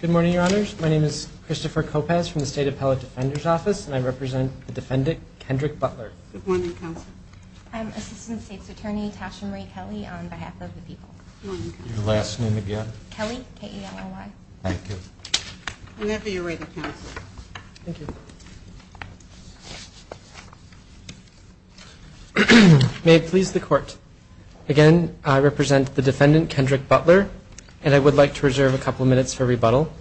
Good morning, Your Honors. My name is Christopher Kopacz from the State Appellate Defender's Office and I represent the defendant, Kendrick Butler. Good morning, Counsel. I'm Assistant State's Attorney Tasha Marie Kelly on behalf of the people. Good morning, Counsel. Your last name again? Kelly, K-E-L-L-Y. Thank you. May it please the Court, again, I represent the defendant, Kendrick Butler, and I would like to reserve a couple minutes for rebuttal.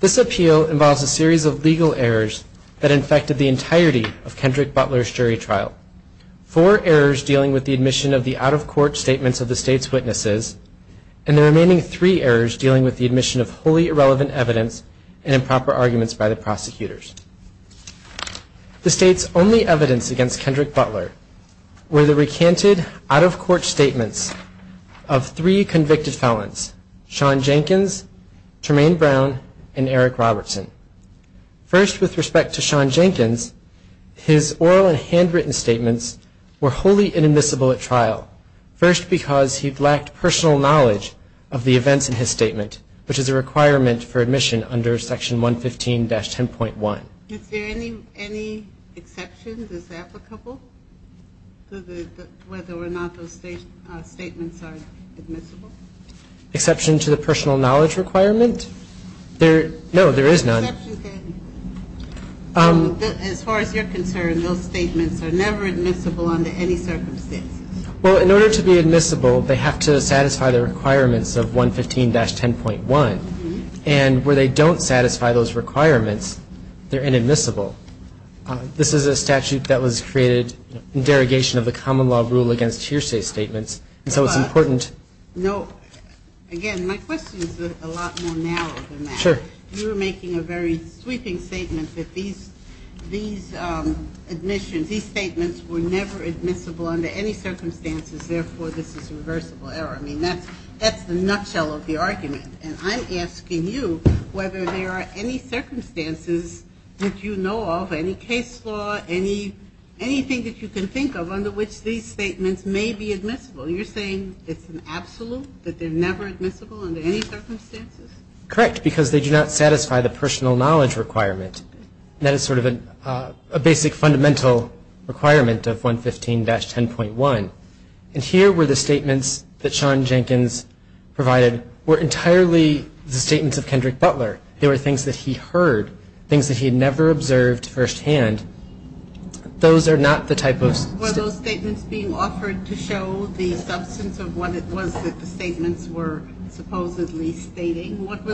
This appeal involves a series of legal errors that infected the entirety of Kendrick Butler's jury trial. Four errors dealing with the admission of the out-of-court statements of the State's witnesses and the remaining three errors dealing with the admission of wholly irrelevant evidence and improper arguments by the prosecutors. The State's only evidence against Kendrick Butler were the recanted out-of-court statements of three convicted felons, Sean Jenkins, Tremaine Brown, and Eric Robertson. First with respect to Sean Jenkins, his oral and handwritten statements were wholly inadmissible at trial, first because he lacked personal knowledge of the events in his statement, which is a requirement for admission under Section 115-10.1. Is there any exception that's applicable to whether or not those statements are admissible? Exception to the personal knowledge requirement? No, there is none. As far as you're concerned, those statements are never admissible under any circumstances? Well, in order to be admissible, they have to satisfy the requirements of 115-10.1. And where they don't satisfy those requirements, they're inadmissible. This is a statute that was created in derogation of the common law rule against hearsay statements, and so it's important No, again, my question is a lot more narrow than that. Sure. You're making a very sweeping statement that these statements were never admissible under any circumstances, therefore this is reversible error. I mean, that's the nutshell of the argument, and I'm asking you whether there are any circumstances that you know of, any case law, anything that you can think of under which these statements may be admissible. You're saying it's an absolute, that they're never admissible under any circumstances? Correct, because they do not satisfy the personal knowledge requirement, and that is sort of a basic fundamental requirement of 115-10.1. And here were the statements that Sean Jenkins provided were entirely the statements of Kendrick Butler. They were things that he heard, things that he had never observed firsthand. Those are not the type of Were those statements being offered to show the substance of what it was that the statements were supposedly stating? What were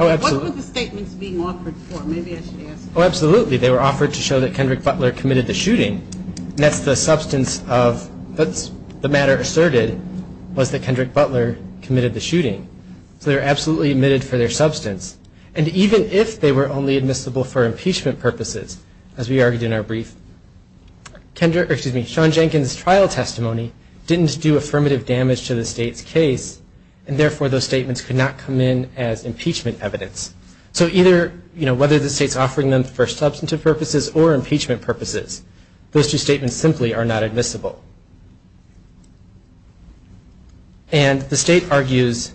the statements being offered for? Maybe I should ask. Oh, absolutely. They were offered to show that Kendrick Butler committed the shooting, and that's the substance of what the matter asserted was that Kendrick Butler committed the shooting. So they were absolutely admitted for their substance. And even if they were only admissible for impeachment purposes, as we argued in our case, those statements could not come in as impeachment evidence. So either, whether the state's offering them for substantive purposes or impeachment purposes, those two statements simply are not admissible. And the state argues,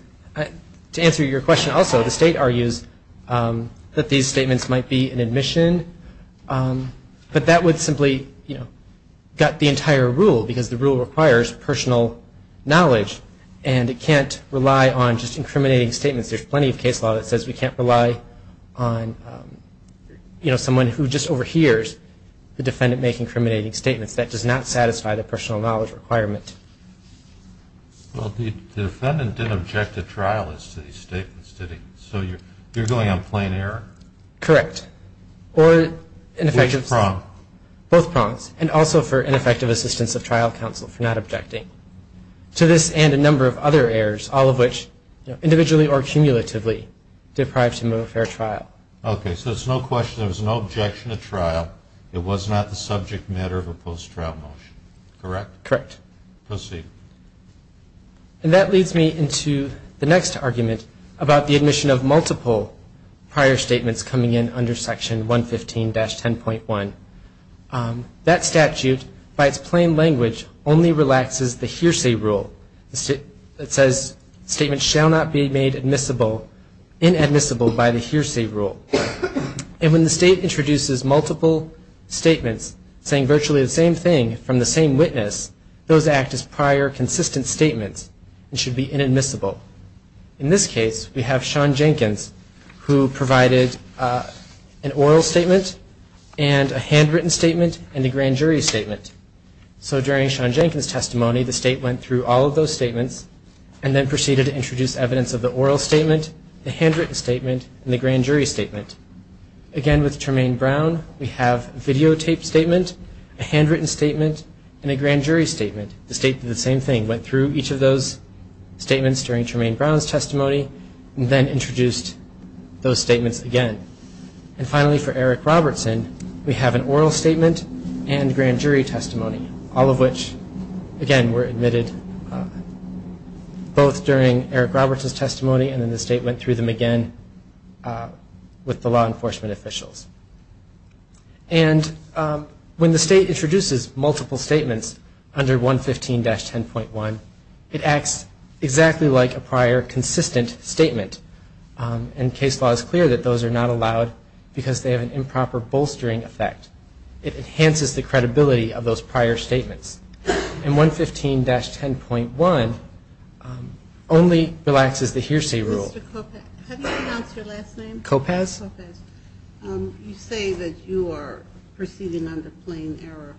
to answer your question also, the state argues that these statements might be an admission, but that would simply gut the entire rule, because the rule requires personal knowledge, and it can't rely on just incriminating statements. There's plenty of case law that says we can't rely on, you know, someone who just overhears the defendant making incriminating statements. That does not satisfy the personal knowledge requirement. Well, the defendant didn't object to trial as to these statements, did he? So you're going on plain error? Correct. Or both prongs. And also for ineffective assistance of trial counsel for not objecting. To this and a number of other errors, all of which, individually or cumulatively, deprived him of a fair trial. Okay, so there's no question, there was no objection to trial. It was not the subject matter of a post-trial motion, correct? Correct. Proceed. And that leads me into the next argument about the admission of multiple prior statements coming in under Section 115-10.1. That statute, by its plain language, only relaxes the hearsay rule. It says, statements shall not be made admissible, inadmissible by the hearsay rule. And when the state introduces multiple statements saying virtually the same thing from the same witness, those act as prior consistent statements and should be inadmissible. In this case, we have Sean Jenkins, who provided an oral statement and a handwritten statement and a grand jury statement. So during Sean Jenkins' testimony, the state went through all of those statements and then proceeded to introduce evidence of the oral statement, the handwritten statement, and the grand jury statement. Again, with Tremaine Brown, we have videotaped statement, a handwritten statement, and a grand jury statement. The state did the same thing, went through each of those statements during Tremaine Brown's testimony and then introduced those statements again. And finally, for Eric Robertson, we have an oral statement and grand jury testimony, all of which, again, were admitted both during Eric Robertson's testimony and then the state went through them again with the law enforcement officials. And when the state introduces multiple statements under 115-10.1, it acts exactly like a prior consistent statement. And case law is clear that those are not allowed because they have an improper bolstering effect. It enhances the credibility of those prior statements. And 115-10.1 only relaxes the hearsay rule. Mr. Kopacz, have you announced your last name? Kopacz. Kopacz. You say that you are proceeding under plain error.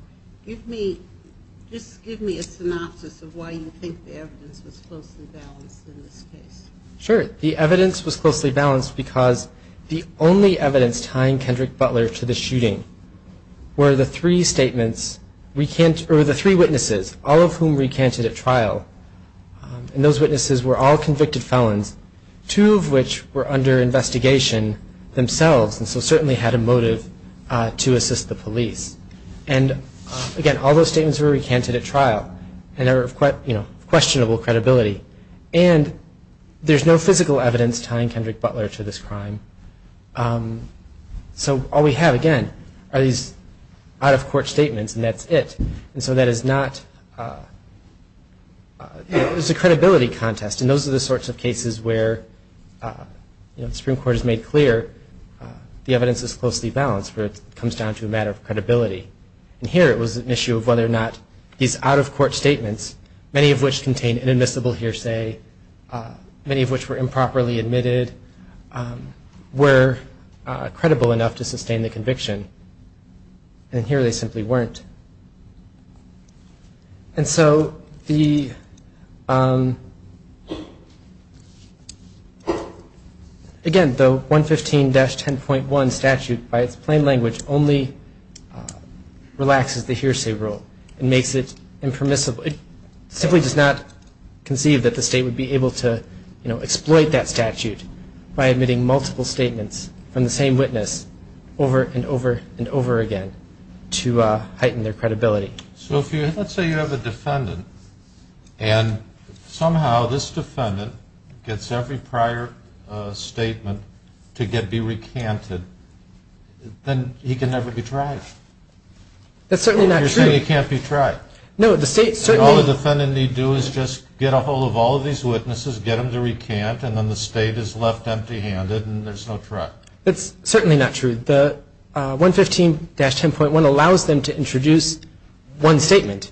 Just give me a synopsis of why you think the evidence was closely balanced in this case. Sure. The evidence was closely balanced because the only evidence tying Kendrick Butler to the shooting were the three witnesses, all of whom recanted at trial. And those witnesses were all convicted felons, two of which were under investigation themselves and so certainly had a motive to assist the police. And again, all those statements were recanted at trial. And they were of questionable credibility. And there's no physical evidence tying Kendrick Butler to this crime. So all we have, again, are these out-of-court statements and that's it. And so that is not, it's a credibility contest. And those are the sorts of cases where the Supreme Court has made clear the evidence is closely balanced where it comes down to a matter of credibility. And here it was an issue of whether or not these out-of-court statements, many of which contained inadmissible hearsay, many of which were improperly admitted, were credible enough to sustain the conviction. And here they simply weren't. And so the, again, the 115-10.1 statute by its plain language only relaxes the hearsay rule and makes it impermissible. It simply does not conceive that the state would be able to exploit that statute by admitting multiple statements from the same witness over and over again to undermine their credibility. So if you, let's say you have a defendant and somehow this defendant gets every prior statement to get, be recanted, then he can never be tried. That's certainly not true. You're saying he can't be tried. No, the state certainly. And all the defendant need do is just get a hold of all of these witnesses, get them to recant, and then the state is left empty-handed and there's no trial. That's certainly not true. The 115-10.1 allows them to introduce one statement.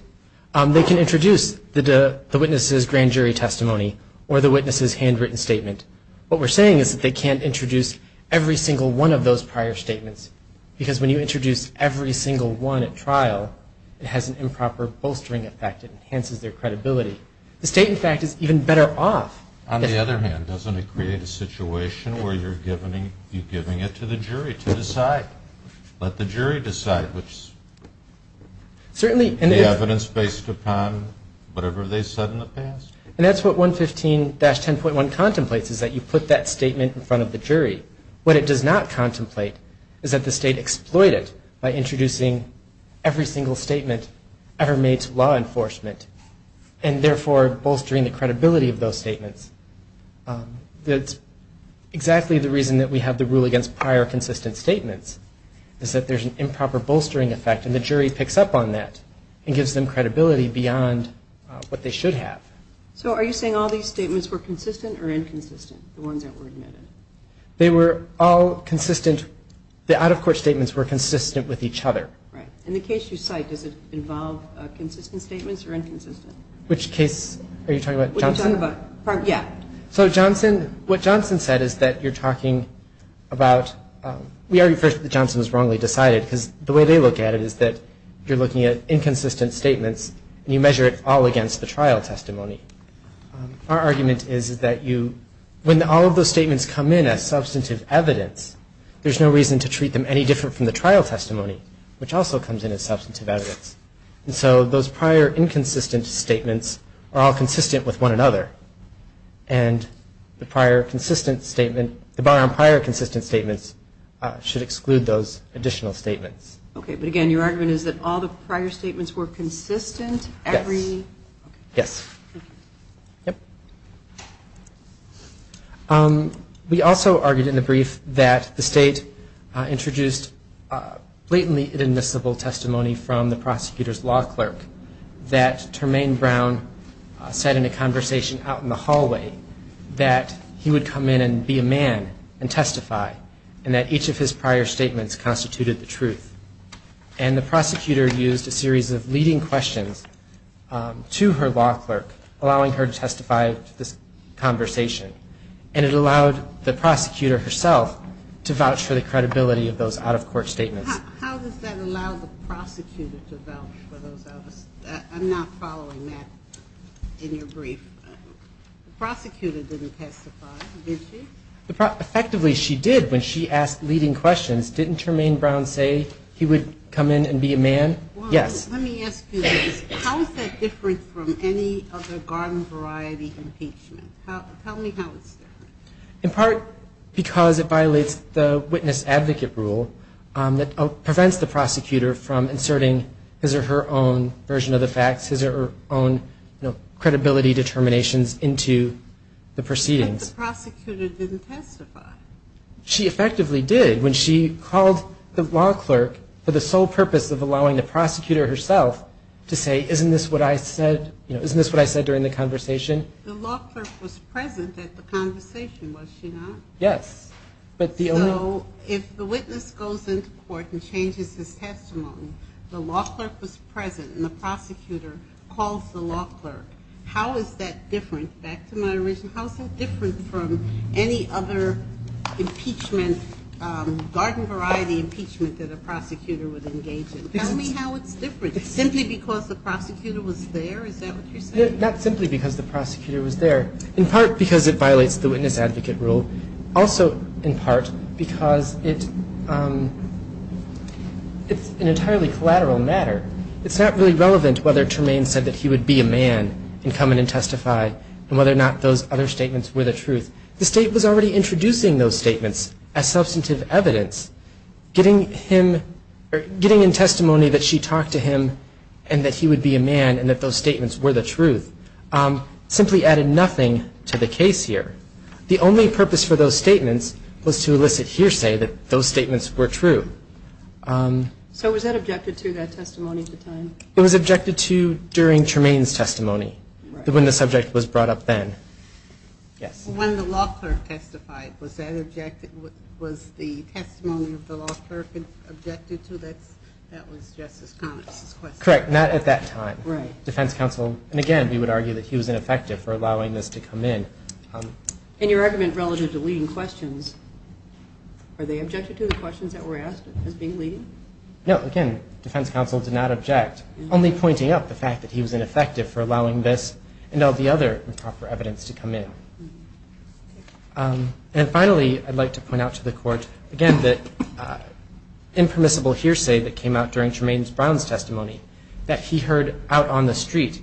They can introduce the witness's grand jury testimony or the witness's handwritten statement. What we're saying is that they can't introduce every single one of those prior statements. Because when you introduce every single one at trial, it has an improper bolstering effect. It enhances their credibility. The state, in fact, is even better off. On the other hand, doesn't it create a situation where you're giving it to the jury to decide? Let the jury decide, which is the evidence based upon whatever they said in the past? And that's what 115-10.1 contemplates, is that you put that statement in front of the jury. What it does not contemplate is that the state exploit it by introducing every single statement ever made to law enforcement, and therefore, bolstering the credibility of those statements. That's exactly the reason that we have the rule against prior consistent statements, is that there's an improper bolstering effect. And the jury picks up on that and gives them credibility beyond what they should have. So are you saying all these statements were consistent or inconsistent, the ones that were admitted? They were all consistent. The out-of-court statements were consistent with each other. Right. And the case you cite, does it involve consistent statements or inconsistent? Which case are you talking about? Johnson? Yeah. So Johnson, what Johnson said is that you're talking about, we argue first that Johnson was wrongly decided, because the way they look at it is that you're looking at inconsistent statements and you measure it all against the trial testimony. Our argument is that when all of those statements come in as substantive evidence, there's no reason to treat them any different from the trial testimony, which also comes in as substantive evidence. And so those prior inconsistent statements are all consistent with one another. And the prior consistent statement, the bar on prior consistent statements should exclude those additional statements. Okay. But again, your argument is that all the prior statements were consistent every? Yes. Okay. Yes. Okay. Yep. We also argued in the brief that the state introduced blatantly inadmissible testimony from the prosecutor's law clerk that Termaine Brown said in a conversation out in the hallway that he would come in and be a man and testify, and that each of his prior statements constituted the truth. And the prosecutor used a series of leading questions to her law clerk, allowing her to testify to this conversation. And it allowed the prosecutor herself to vouch for the credibility of those out-of-court statements. How does that allow the prosecutor to vouch for those others? I'm not following that in your brief. The prosecutor didn't testify, did she? Effectively, she did when she asked leading questions. Didn't Termaine Brown say he would come in and be a man? Yes. Well, let me ask you this. How is that different from any other garden variety impeachment? Tell me how it's different. In part because it violates the witness advocate rule that prevents the prosecutor from making his own version of the facts, his own credibility determinations into the proceedings. But the prosecutor didn't testify. She effectively did when she called the law clerk for the sole purpose of allowing the prosecutor herself to say, isn't this what I said during the conversation? The law clerk was present at the conversation, was she not? Yes. So if the witness goes into court and changes his testimony, the law clerk was present and the prosecutor calls the law clerk, how is that different? Back to my original question, how is that different from any other impeachment, garden variety impeachment that a prosecutor would engage in? Tell me how it's different. Simply because the prosecutor was there? Is that what you're saying? Not simply because the prosecutor was there. In part because it violates the witness advocate rule. Also in part because it's an entirely collateral matter. It's not really relevant whether Tremaine said that he would be a man and come in and testify and whether or not those other statements were the truth. The state was already introducing those statements as substantive evidence. Getting him or getting in testimony that she talked to him and that he would be a man and that those statements were the truth simply added nothing to the case here. The only purpose for those statements was to elicit hearsay that those statements were true. So was that objected to, that testimony at the time? It was objected to during Tremaine's testimony, when the subject was brought up then. When the law clerk testified, was the testimony of the law clerk objected to? That was Justice Connix's question. Correct. Not at that time. Defense counsel, and again, we would argue that he was ineffective for allowing this. And your argument relative to leading questions, are they objected to the questions that were asked as being leading? No. Again, defense counsel did not object. Only pointing out the fact that he was ineffective for allowing this and all the other improper evidence to come in. And finally, I'd like to point out to the court, again, that impermissible hearsay that came out during Tremaine Brown's testimony that he heard out on the street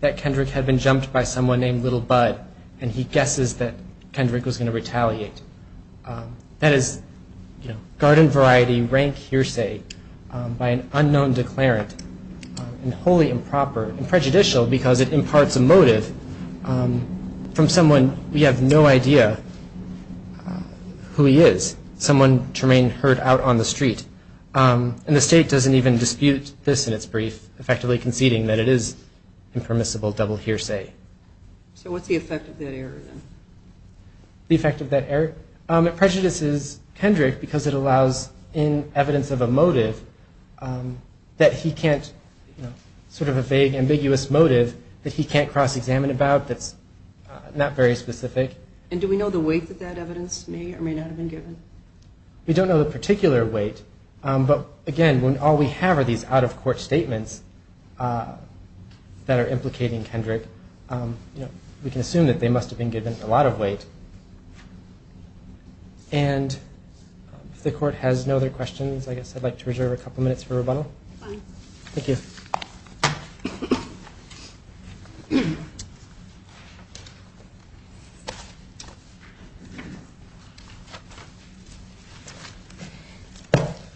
that Kendrick had been jumped by someone named Little Bud, and he guesses that Kendrick was going to retaliate. That is garden variety rank hearsay by an unknown declarant, and wholly improper and prejudicial because it imparts a motive from someone we have no idea who he is, someone Tremaine heard out on the street. And the state doesn't even dispute this in its brief, effectively conceding that it is impermissible double hearsay. So what's the effect of that error, then? The effect of that error? It prejudices Kendrick because it allows in evidence of a motive that he can't sort of a vague, ambiguous motive that he can't cross-examine about that's not very specific. And do we know the weight that that evidence may or may not have been given? We don't know the particular weight. But again, when all we have are these out-of-court statements that are implicating Kendrick, we can assume that they must have been given a lot of weight. And if the court has no other questions, I guess I'd like to reserve a couple minutes for rebuttal. Fine. Thank you.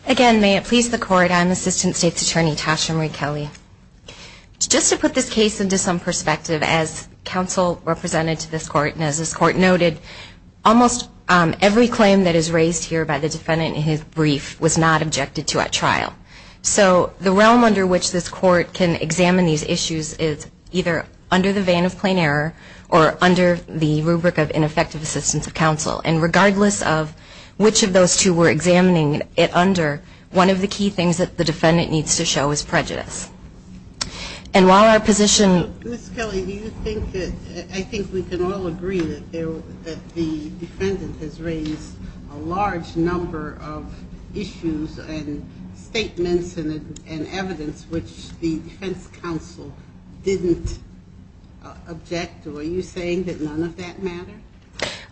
Again, may it please the court, I'm Assistant State's Attorney Tasha Marie Kelly. Just to put this case into some perspective, as counsel represented to this court and as this court noted, almost every claim that is raised here by the defendant in his brief was not objected to at trial. So the realm under which this court can examine these issues is either under the vein of plain error or under the rubric of ineffective assistance of the defense counsel. And while our position is that this is a case where the defense counsel has raised a large number of issues and statements and evidence which the defense counsel didn't object to, are you saying that none of that mattered?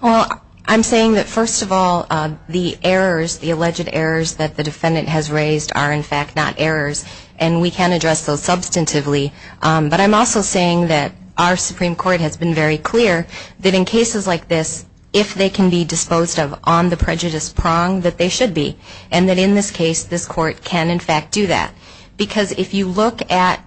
Well, I'm saying that first of all, the errors, the alleged errors that the defendant has raised are in fact not errors. And we can address those substantively. But I'm also saying that our Supreme Court has been very clear that in cases like this, if they can be disposed of on the prejudice prong, that they should be. And that in this case, this court can in fact do that. Because if you look at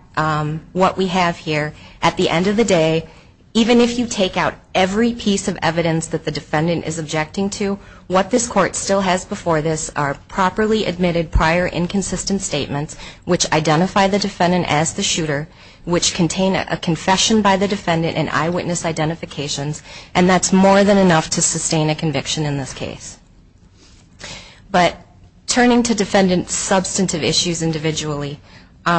what we have here, at the end of the day, even if you take out every piece of evidence that the defendant is objecting to, what this court has done is it has submitted prior inconsistent statements which identify the defendant as the shooter, which contain a confession by the defendant and eyewitness identifications. And that's more than enough to sustain a conviction in this case. But turning to defendant's substantive issues individually,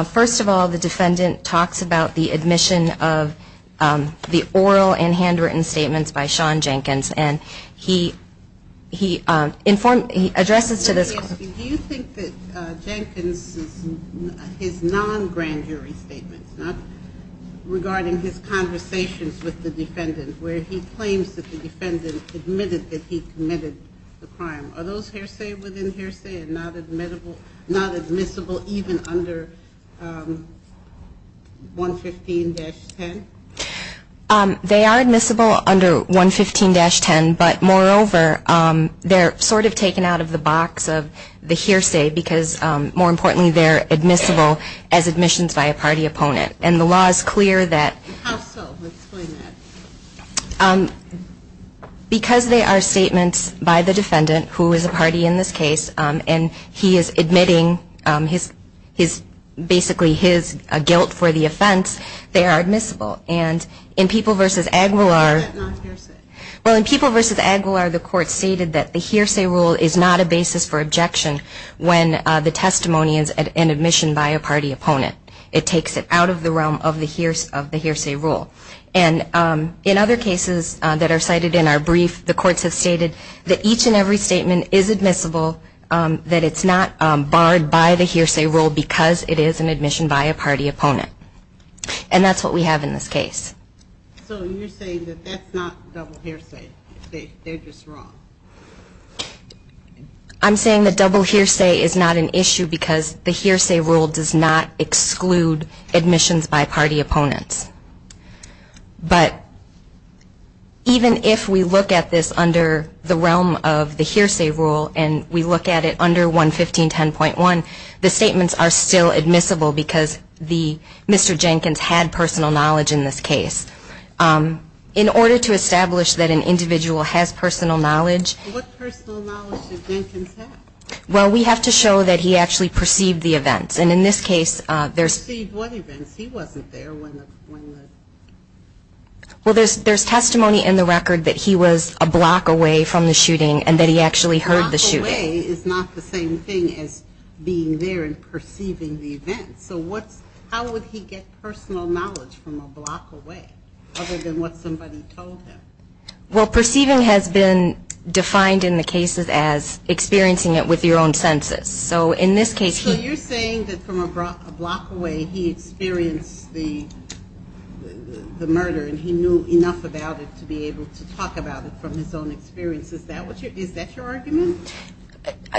first of all, the defendant talks about the admission of the oral and handwritten statements by And I think that Jenkins, his non-grand jury statements, not regarding his conversations with the defendant, where he claims that the defendant admitted that he committed the crime. Are those hearsay within hearsay and not admissible even under 115-10? They are admissible under 115-10. But moreover, they're sort of taken out of the box of the hearsay, because more importantly, they're admissible as admissions by a party opponent. And the law is clear that How so? Explain that. Because they are statements by the defendant, who is a party in this case, and he is admitting basically his guilt for the offense, they are admissible. And in People v. Aguilar What about non-hearsay? Well, in People v. Aguilar, the court stated that the hearsay rule is not a basis for objection when the testimony is an admission by a party opponent. It takes it out of the realm of the hearsay rule. And in other cases that are cited in our brief, the courts have stated that each and every statement is admissible, that it's not barred by the hearsay rule because it is an admission by a party opponent. And that's what we have in this case. So you're saying that that's not double hearsay. They're just wrong. I'm saying that double hearsay is not an issue because the hearsay rule does not exclude admissions by party opponents. But even if we look at this under the realm of the hearsay rule, and we look at it under 115.10.1, the statements are still admissible because Mr. Jenkins had personal knowledge in this case. In order to establish that an individual has personal knowledge What personal knowledge did Jenkins have? Well, we have to show that he actually perceived the events. And in this case, there's Perceived what events? He wasn't there when the Well, there's testimony in the record that he was a block away from the shooting and that he actually heard the shooting. A block away is not the same thing as being there and perceiving the events. So how would he get personal knowledge from a block away other than what somebody told him? Well, perceiving has been defined in the cases as experiencing it with your own senses. So in this case So you're saying that from a block away he experienced the murder and he knew enough about it to be able to talk about it from his own experience. Is that your argument?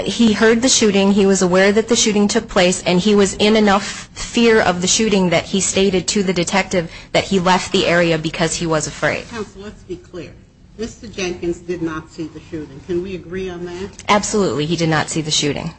He heard the shooting. He was aware that the shooting took place. And he was in enough fear of the shooting that he stated to the detective that he left the area because he was afraid. Counsel, let's be clear. Mr. Jenkins did not see the shooting. Can we agree on that? Absolutely. He did not see the shooting.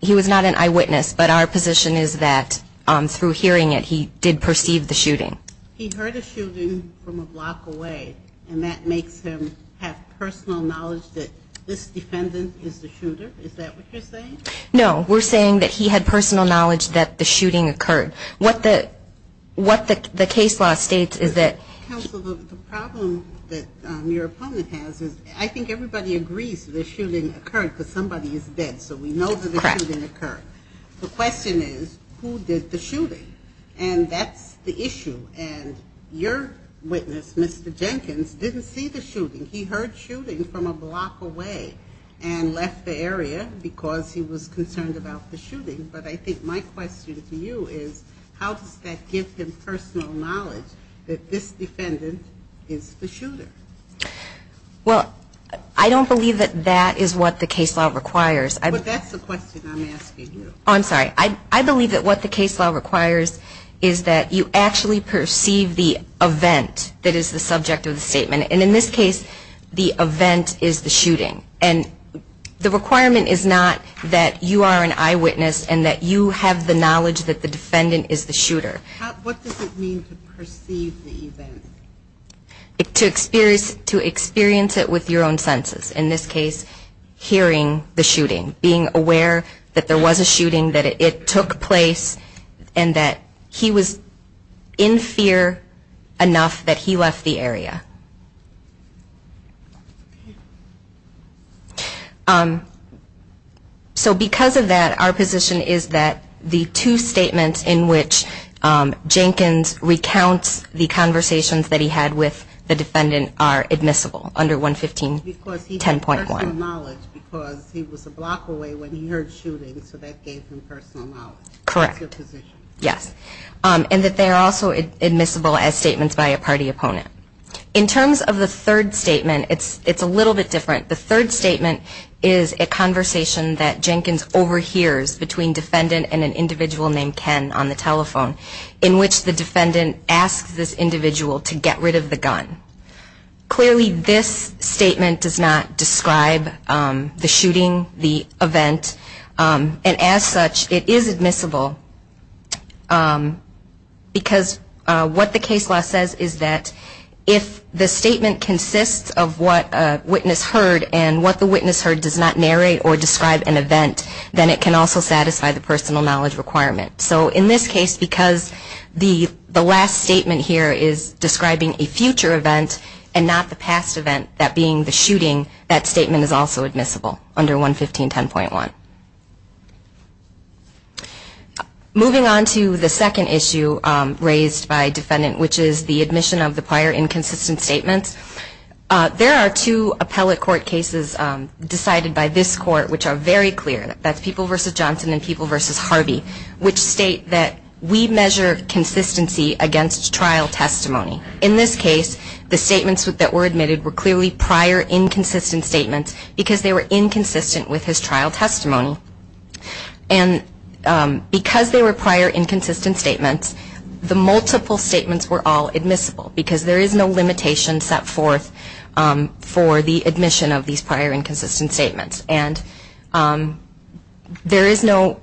He was not an eyewitness. But our position is that through hearing it, he did perceive the shooting. He heard a shooting from a block away. And that makes him have personal knowledge that this defendant is the shooter. Is that what you're saying? No. We're saying that he had personal knowledge that the shooting occurred. What the case law states is that. Counsel, the problem that your opponent has is I think everybody agrees the shooting occurred because somebody is dead. So we know that the shooting occurred. The question is, who did the shooting? And that's the issue. And your witness, Mr. Jenkins, didn't see the shooting. He heard shooting from a block away and left the area because he was concerned about the shooting. But I think my question to you is how does that give him personal knowledge that this defendant is the shooter? Well, I don't believe that that is what the case law requires. But that's the question I'm asking you. I'm sorry. I believe that what the case law requires is that you actually perceive the event that is the subject of the statement. And in this case, the event is the shooting. And the requirement is not that you are an eyewitness and that you have the knowledge that the defendant is the shooter. What does it mean to perceive the event? To experience it with your own senses. he heard shooting, that it took place, and that he was in fear enough that he left the area? So because of that, our position is that the two statements in which Jenkins recounts the conversations that he had with the defendant are admissible under 115.10.1. Personal knowledge because he was a block away when he heard shooting, so that gave him personal knowledge. Correct. That's your position. Yes. And that they are also admissible as statements by a party opponent. In terms of the third statement, it's a little bit different. The third statement is a conversation that Jenkins overhears between defendant and an individual named Ken on the telephone in which the defendant asks this individual to get rid of the gun. Clearly this statement does not describe the shooting, the event, and as such, it is admissible because what the case law says is that if the statement consists of what a witness heard and what the witness heard does not narrate or describe an event, then it can also satisfy the personal knowledge requirement. So in this case, because the last statement here is describing a future event and not the past event, that being the shooting, that statement is also admissible under 115.10.1. Moving on to the second issue raised by defendant, which is the admission of the prior inconsistent statements, there are two appellate court cases decided by this court which are very clear. That's People v. Johnson and People v. Harvey, which state that we measure consistency against trial testimony. In this case, the statements that were admitted were clearly prior inconsistent statements because they were inconsistent with his trial testimony. And because they were prior inconsistent statements, the multiple statements were all admissible because there is no limitation set forth for the admission of these prior inconsistent statements. And there is no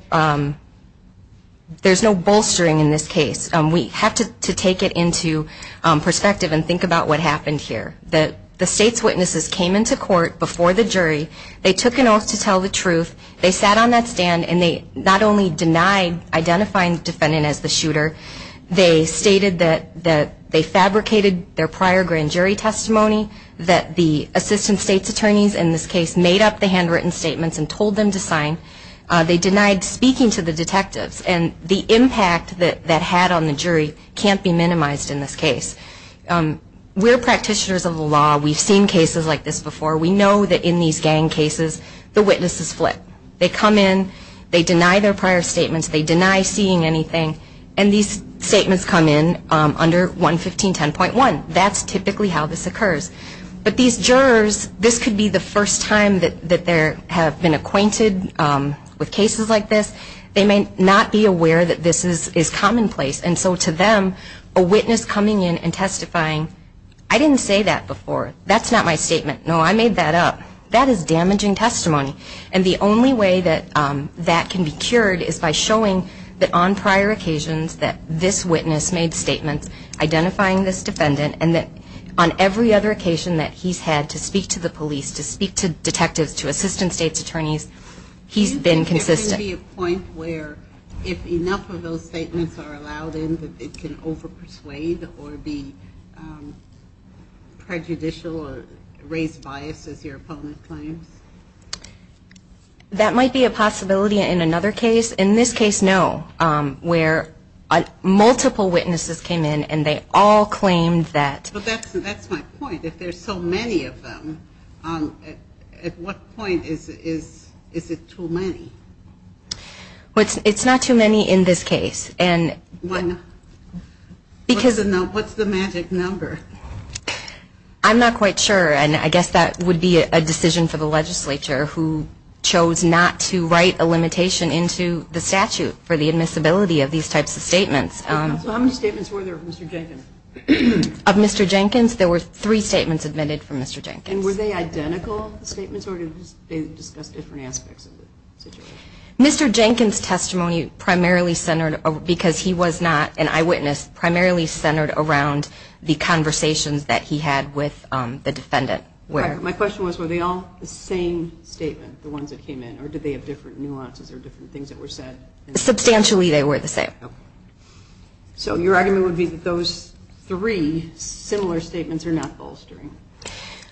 bolstering in this case. We have to take it into perspective and think about what happened here. The state's witnesses came into court before the jury. They took an oath to tell the truth. They sat on that stand, and they not only denied identifying the defendant as the shooter, they stated that they fabricated their prior grand jury testimony, that the assistant state's attorneys in this case made up the handwritten statements and told them to sign. They denied speaking to the detectives. And the impact that that had on the jury can't be minimized in this case. We're practitioners of the law. We've seen cases like this before. We know that in these gang cases, the witnesses flip. They come in. They deny their prior statements. They deny seeing anything. And these statements come in under 11510.1. That's typically how this occurs. But these jurors, this could be the first time that they have been acquainted with cases like this. They may not be aware that this is commonplace. And so to them, a witness coming in and testifying, I didn't say that before. That's not my statement. No, I made that up. That is damaging testimony. And the only way that that can be cured is by showing that on prior occasions that this witness made statements identifying this defendant, and that on every other occasion that he's had to speak to the police, to speak to detectives, to assistant state's attorneys, he's been consistent. Do you think there can be a point where if enough of those statements are allowed in, that it can overpersuade or be prejudicial or raise bias as your opponent claims? That might be a possibility in another case. In this case, no, where multiple witnesses came in, and they all claimed that. But that's my point. If there's so many of them, at what point is it too many? It's not too many in this case. What's the magic number? I'm not quite sure, and I guess that would be a decision for the legislature who chose not to write a limitation into the statute for the admissibility of these types of statements. How many statements were there of Mr. Jenkins? Of Mr. Jenkins, there were three statements submitted from Mr. Jenkins. And were they identical statements, or did they discuss different aspects of the situation? Mr. Jenkins' testimony primarily centered, because he was not an eyewitness, primarily centered around the conversations that he had with the defendant. My question was, were they all the same statement, the ones that came in, or did they have different nuances or different things that were said? Substantially they were the same. So your argument would be that those three similar statements are not bolstering?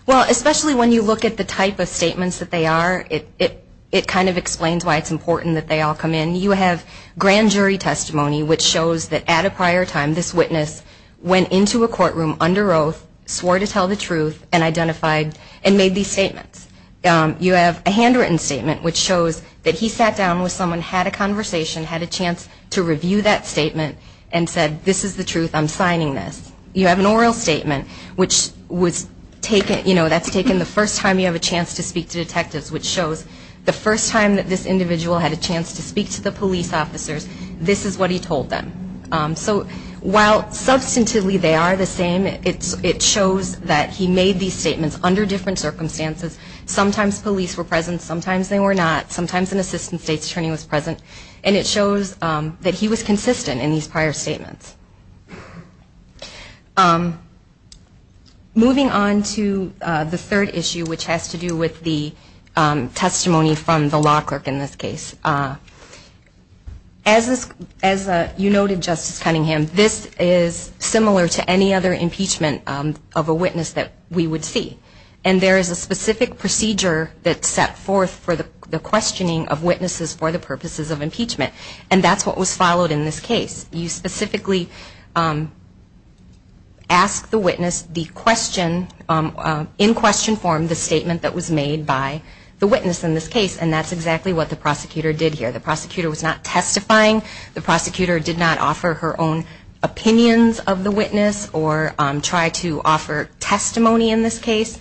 Well, especially when you look at the type of statements that they are, it kind of explains why it's important that they all come in. You have grand jury testimony, which shows that at a prior time, this witness went into a courtroom under oath, swore to tell the truth, and identified and made these statements. You have a handwritten statement, which shows that he sat down with someone, had a conversation, had a chance to review that statement, and said, this is the truth, I'm signing this. You have an oral statement, which was taken, you know, that's taken the first time you have a chance to speak to detectives, which shows the first time that this individual had a chance to speak to the police officers, this is what he told them. So while substantively they are the same, it shows that he made these statements under different circumstances. Sometimes police were present, sometimes they were not. Sometimes an assistant state's attorney was present. And it shows that he was consistent in these prior statements. Moving on to the third issue, which has to do with the testimony from the law clerk in this case. As you noted, Justice Cunningham, this is similar to any other impeachment of a witness that we would see. And there is a specific procedure that's set forth for the questioning of witnesses for the purposes of impeachment. And that's what was followed in this case. You specifically ask the witness the question, in question form, the statement that was made by the witness in this case. And that's exactly what the prosecutor did here. The prosecutor was not testifying. The prosecutor did not offer her own opinions of the witness or try to offer testimony in this case.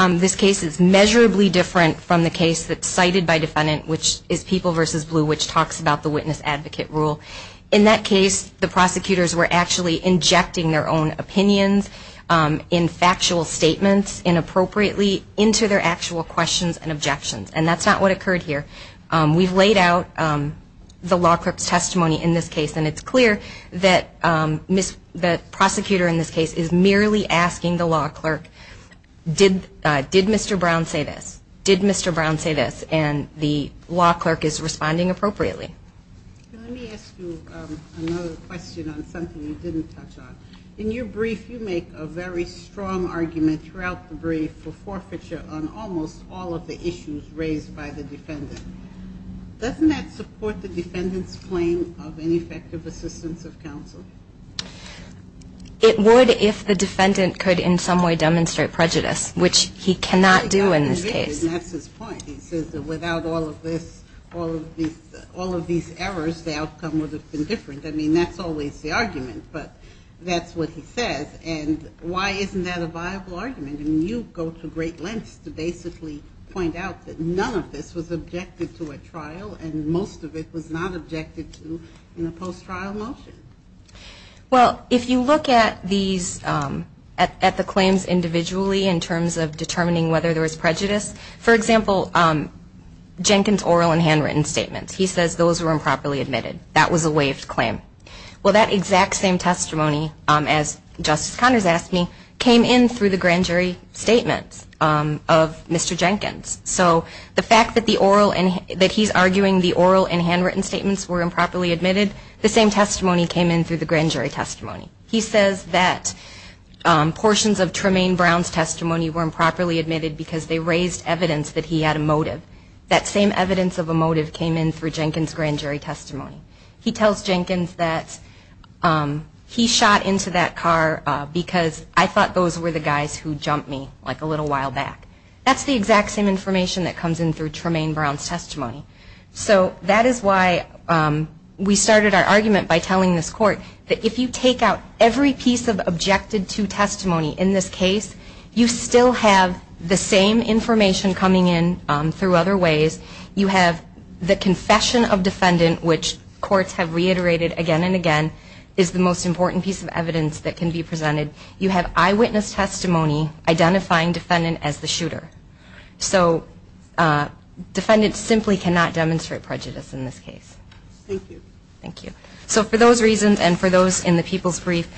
This case is measurably different from the case that's cited by defendant, which is People v. Blue, which talks about the witness advocate rule. In that case, the prosecutors were actually injecting their own opinions in factual statements, inappropriately, into their actual questions and objections. And that's not what occurred here. We've laid out the law clerk's testimony in this case. And it's clear that the prosecutor in this case is merely asking the law clerk, did Mr. Brown say this? Did Mr. Brown say this? And the law clerk is responding appropriately. Let me ask you another question on something you didn't touch on. In your brief, you make a very strong argument throughout the brief for forfeiture on almost all of the issues raised by the defendant. Doesn't that support the defendant's claim of ineffective assistance of counsel? It would if the defendant could in some way demonstrate prejudice, which he cannot do in this case. That's his point. He says that without all of this, all of these errors, the outcome would have been different. I mean, that's always the argument. But that's what he says. And why isn't that a viable argument? I mean, you go to great lengths to basically point out that none of this was objected to at trial and most of it was not objected to in a post-trial motion. Well, if you look at these, at the claims individually in terms of determining whether there was prejudice, for example, Jenkins' oral and handwritten statements, he says those were improperly admitted. That was a waived claim. Well, that exact same testimony, as Justice Connors asked me, came in through the grand jury statements of Mr. Jenkins. So the fact that he's arguing the oral and handwritten statements were improperly admitted, the same testimony came in through the grand jury testimony. He says that portions of Tremaine Brown's testimony were improperly admitted because they raised evidence that he had a motive. That same evidence of a motive came in through Jenkins' grand jury testimony. He tells Jenkins that he shot into that car because I thought those were the guys who jumped me like a little while back. That's the exact same information that comes in through Tremaine Brown's testimony. So that is why we started our argument by telling this court that if you take out every piece of objected-to testimony in this case, you still have the same information coming in through other ways. You have the confession of defendant, which courts have reiterated again and again, is the most important piece of evidence that can be presented. You have eyewitness testimony identifying defendant as the shooter. So defendants simply cannot demonstrate prejudice in this case. Thank you. Thank you. So for those reasons and for those in the people's brief,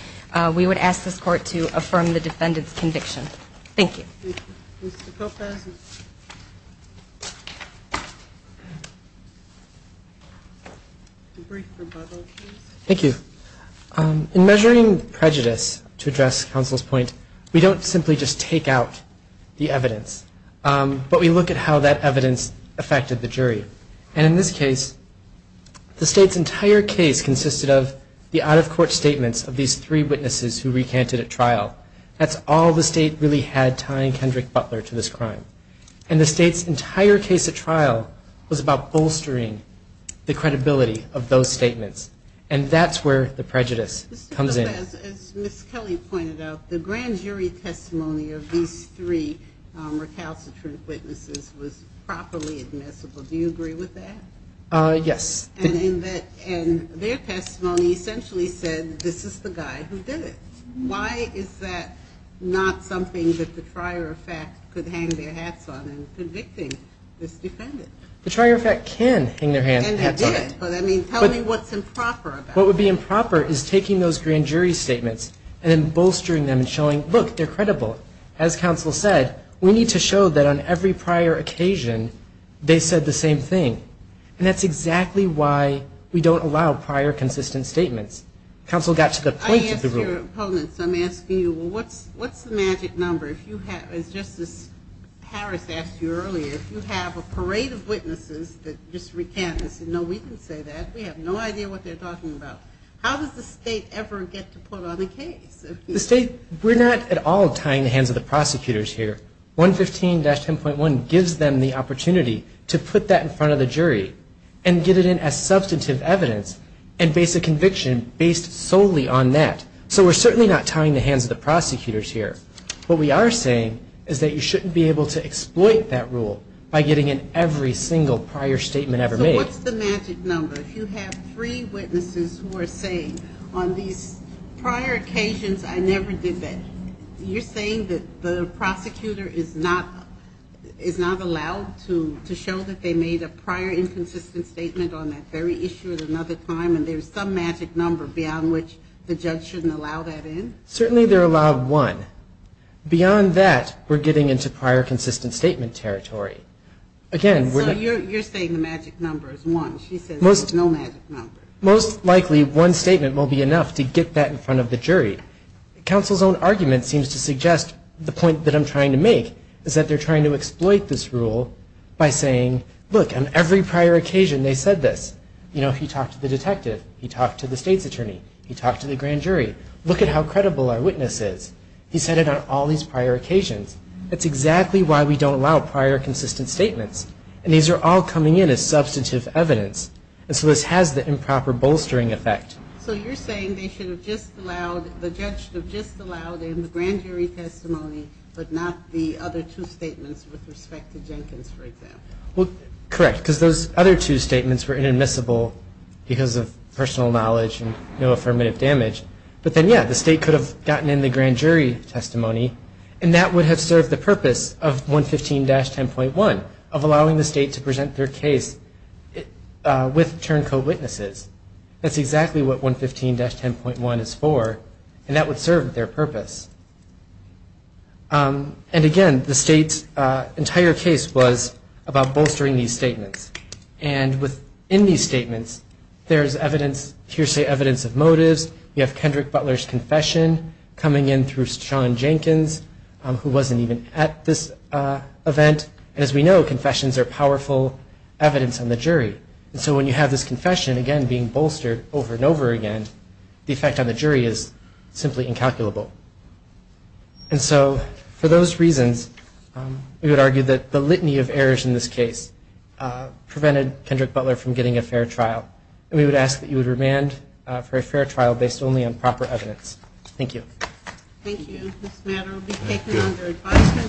we would ask this court to affirm the defendant's conviction. Thank you. Thank you. Thank you. In measuring prejudice, to address counsel's point, we don't simply just take out the evidence, but we look at how that evidence affected the jury. And in this case, the state's entire case consisted of the out-of-court statements of these three witnesses who recanted at trial. That's all the state really had tying Kendrick Butler to this crime. And the state's entire case at trial was about bolstering the credibility of those statements. And that's where the prejudice comes in. As Ms. Kelly pointed out, the grand jury testimony of these three recalcitrant witnesses was properly admissible. Do you agree with that? Yes. And their testimony essentially said, this is the guy who did it. Why is that not something that the trier of fact could hang their hats on in convicting this defendant? The trier of fact can hang their hats on. And they did. But, I mean, tell me what's improper about it. What would be improper is taking those grand jury statements and then bolstering them and showing, look, they're credible. As counsel said, we need to show that on every prior occasion they said the same thing. And that's exactly why we don't allow prior consistent statements. Counsel got to the point of the ruling. Your opponents, I'm asking you, well, what's the magic number? If you have, as Justice Harris asked you earlier, if you have a parade of witnesses that just recant and say, no, we didn't say that, we have no idea what they're talking about. How does the state ever get to put on a case? The state, we're not at all tying the hands of the prosecutors here. 115-10.1 gives them the opportunity to put that in front of the jury and get it in as substantive evidence and base a conviction based solely on that. So we're certainly not tying the hands of the prosecutors here. What we are saying is that you shouldn't be able to exploit that rule by getting in every single prior statement ever made. So what's the magic number? If you have three witnesses who are saying, on these prior occasions I never did that, you're saying that the prosecutor is not allowed to show that they made a prior inconsistent statement on that very issue at another time and there's some magic number beyond which the judge shouldn't allow that in? Certainly they're allowed one. Beyond that, we're getting into prior consistent statement territory. So you're saying the magic number is one. She says there's no magic number. Counsel's own argument seems to suggest the point that I'm trying to make is that they're trying to exploit this rule by saying, look, on every prior occasion they said this. You know, he talked to the detective. He talked to the state's attorney. He talked to the grand jury. Look at how credible our witness is. He said it on all these prior occasions. That's exactly why we don't allow prior consistent statements. And these are all coming in as substantive evidence. And so this has the improper bolstering effect. So you're saying they should have just allowed, the judge should have just allowed in the grand jury testimony but not the other two statements with respect to Jenkins, for example? Correct, because those other two statements were inadmissible because of personal knowledge and no affirmative damage. But then, yeah, the state could have gotten in the grand jury testimony, and that would have served the purpose of 115-10.1, of allowing the state to present their case with turned co-witnesses. That's exactly what 115-10.1 is for, and that would serve their purpose. And, again, the state's entire case was about bolstering these statements. And within these statements, there's evidence, hearsay evidence of motives. You have Kendrick Butler's confession coming in through Sean Jenkins, who wasn't even at this event. And as we know, confessions are powerful evidence on the jury. And so when you have this confession, again, being bolstered over and over again, the effect on the jury is simply incalculable. And so for those reasons, we would argue that the litany of errors in this case prevented Kendrick Butler from getting a fair trial. And we would ask that you would remand for a fair trial based only on proper evidence. Thank you. Thank you. This matter will be taken under advisement.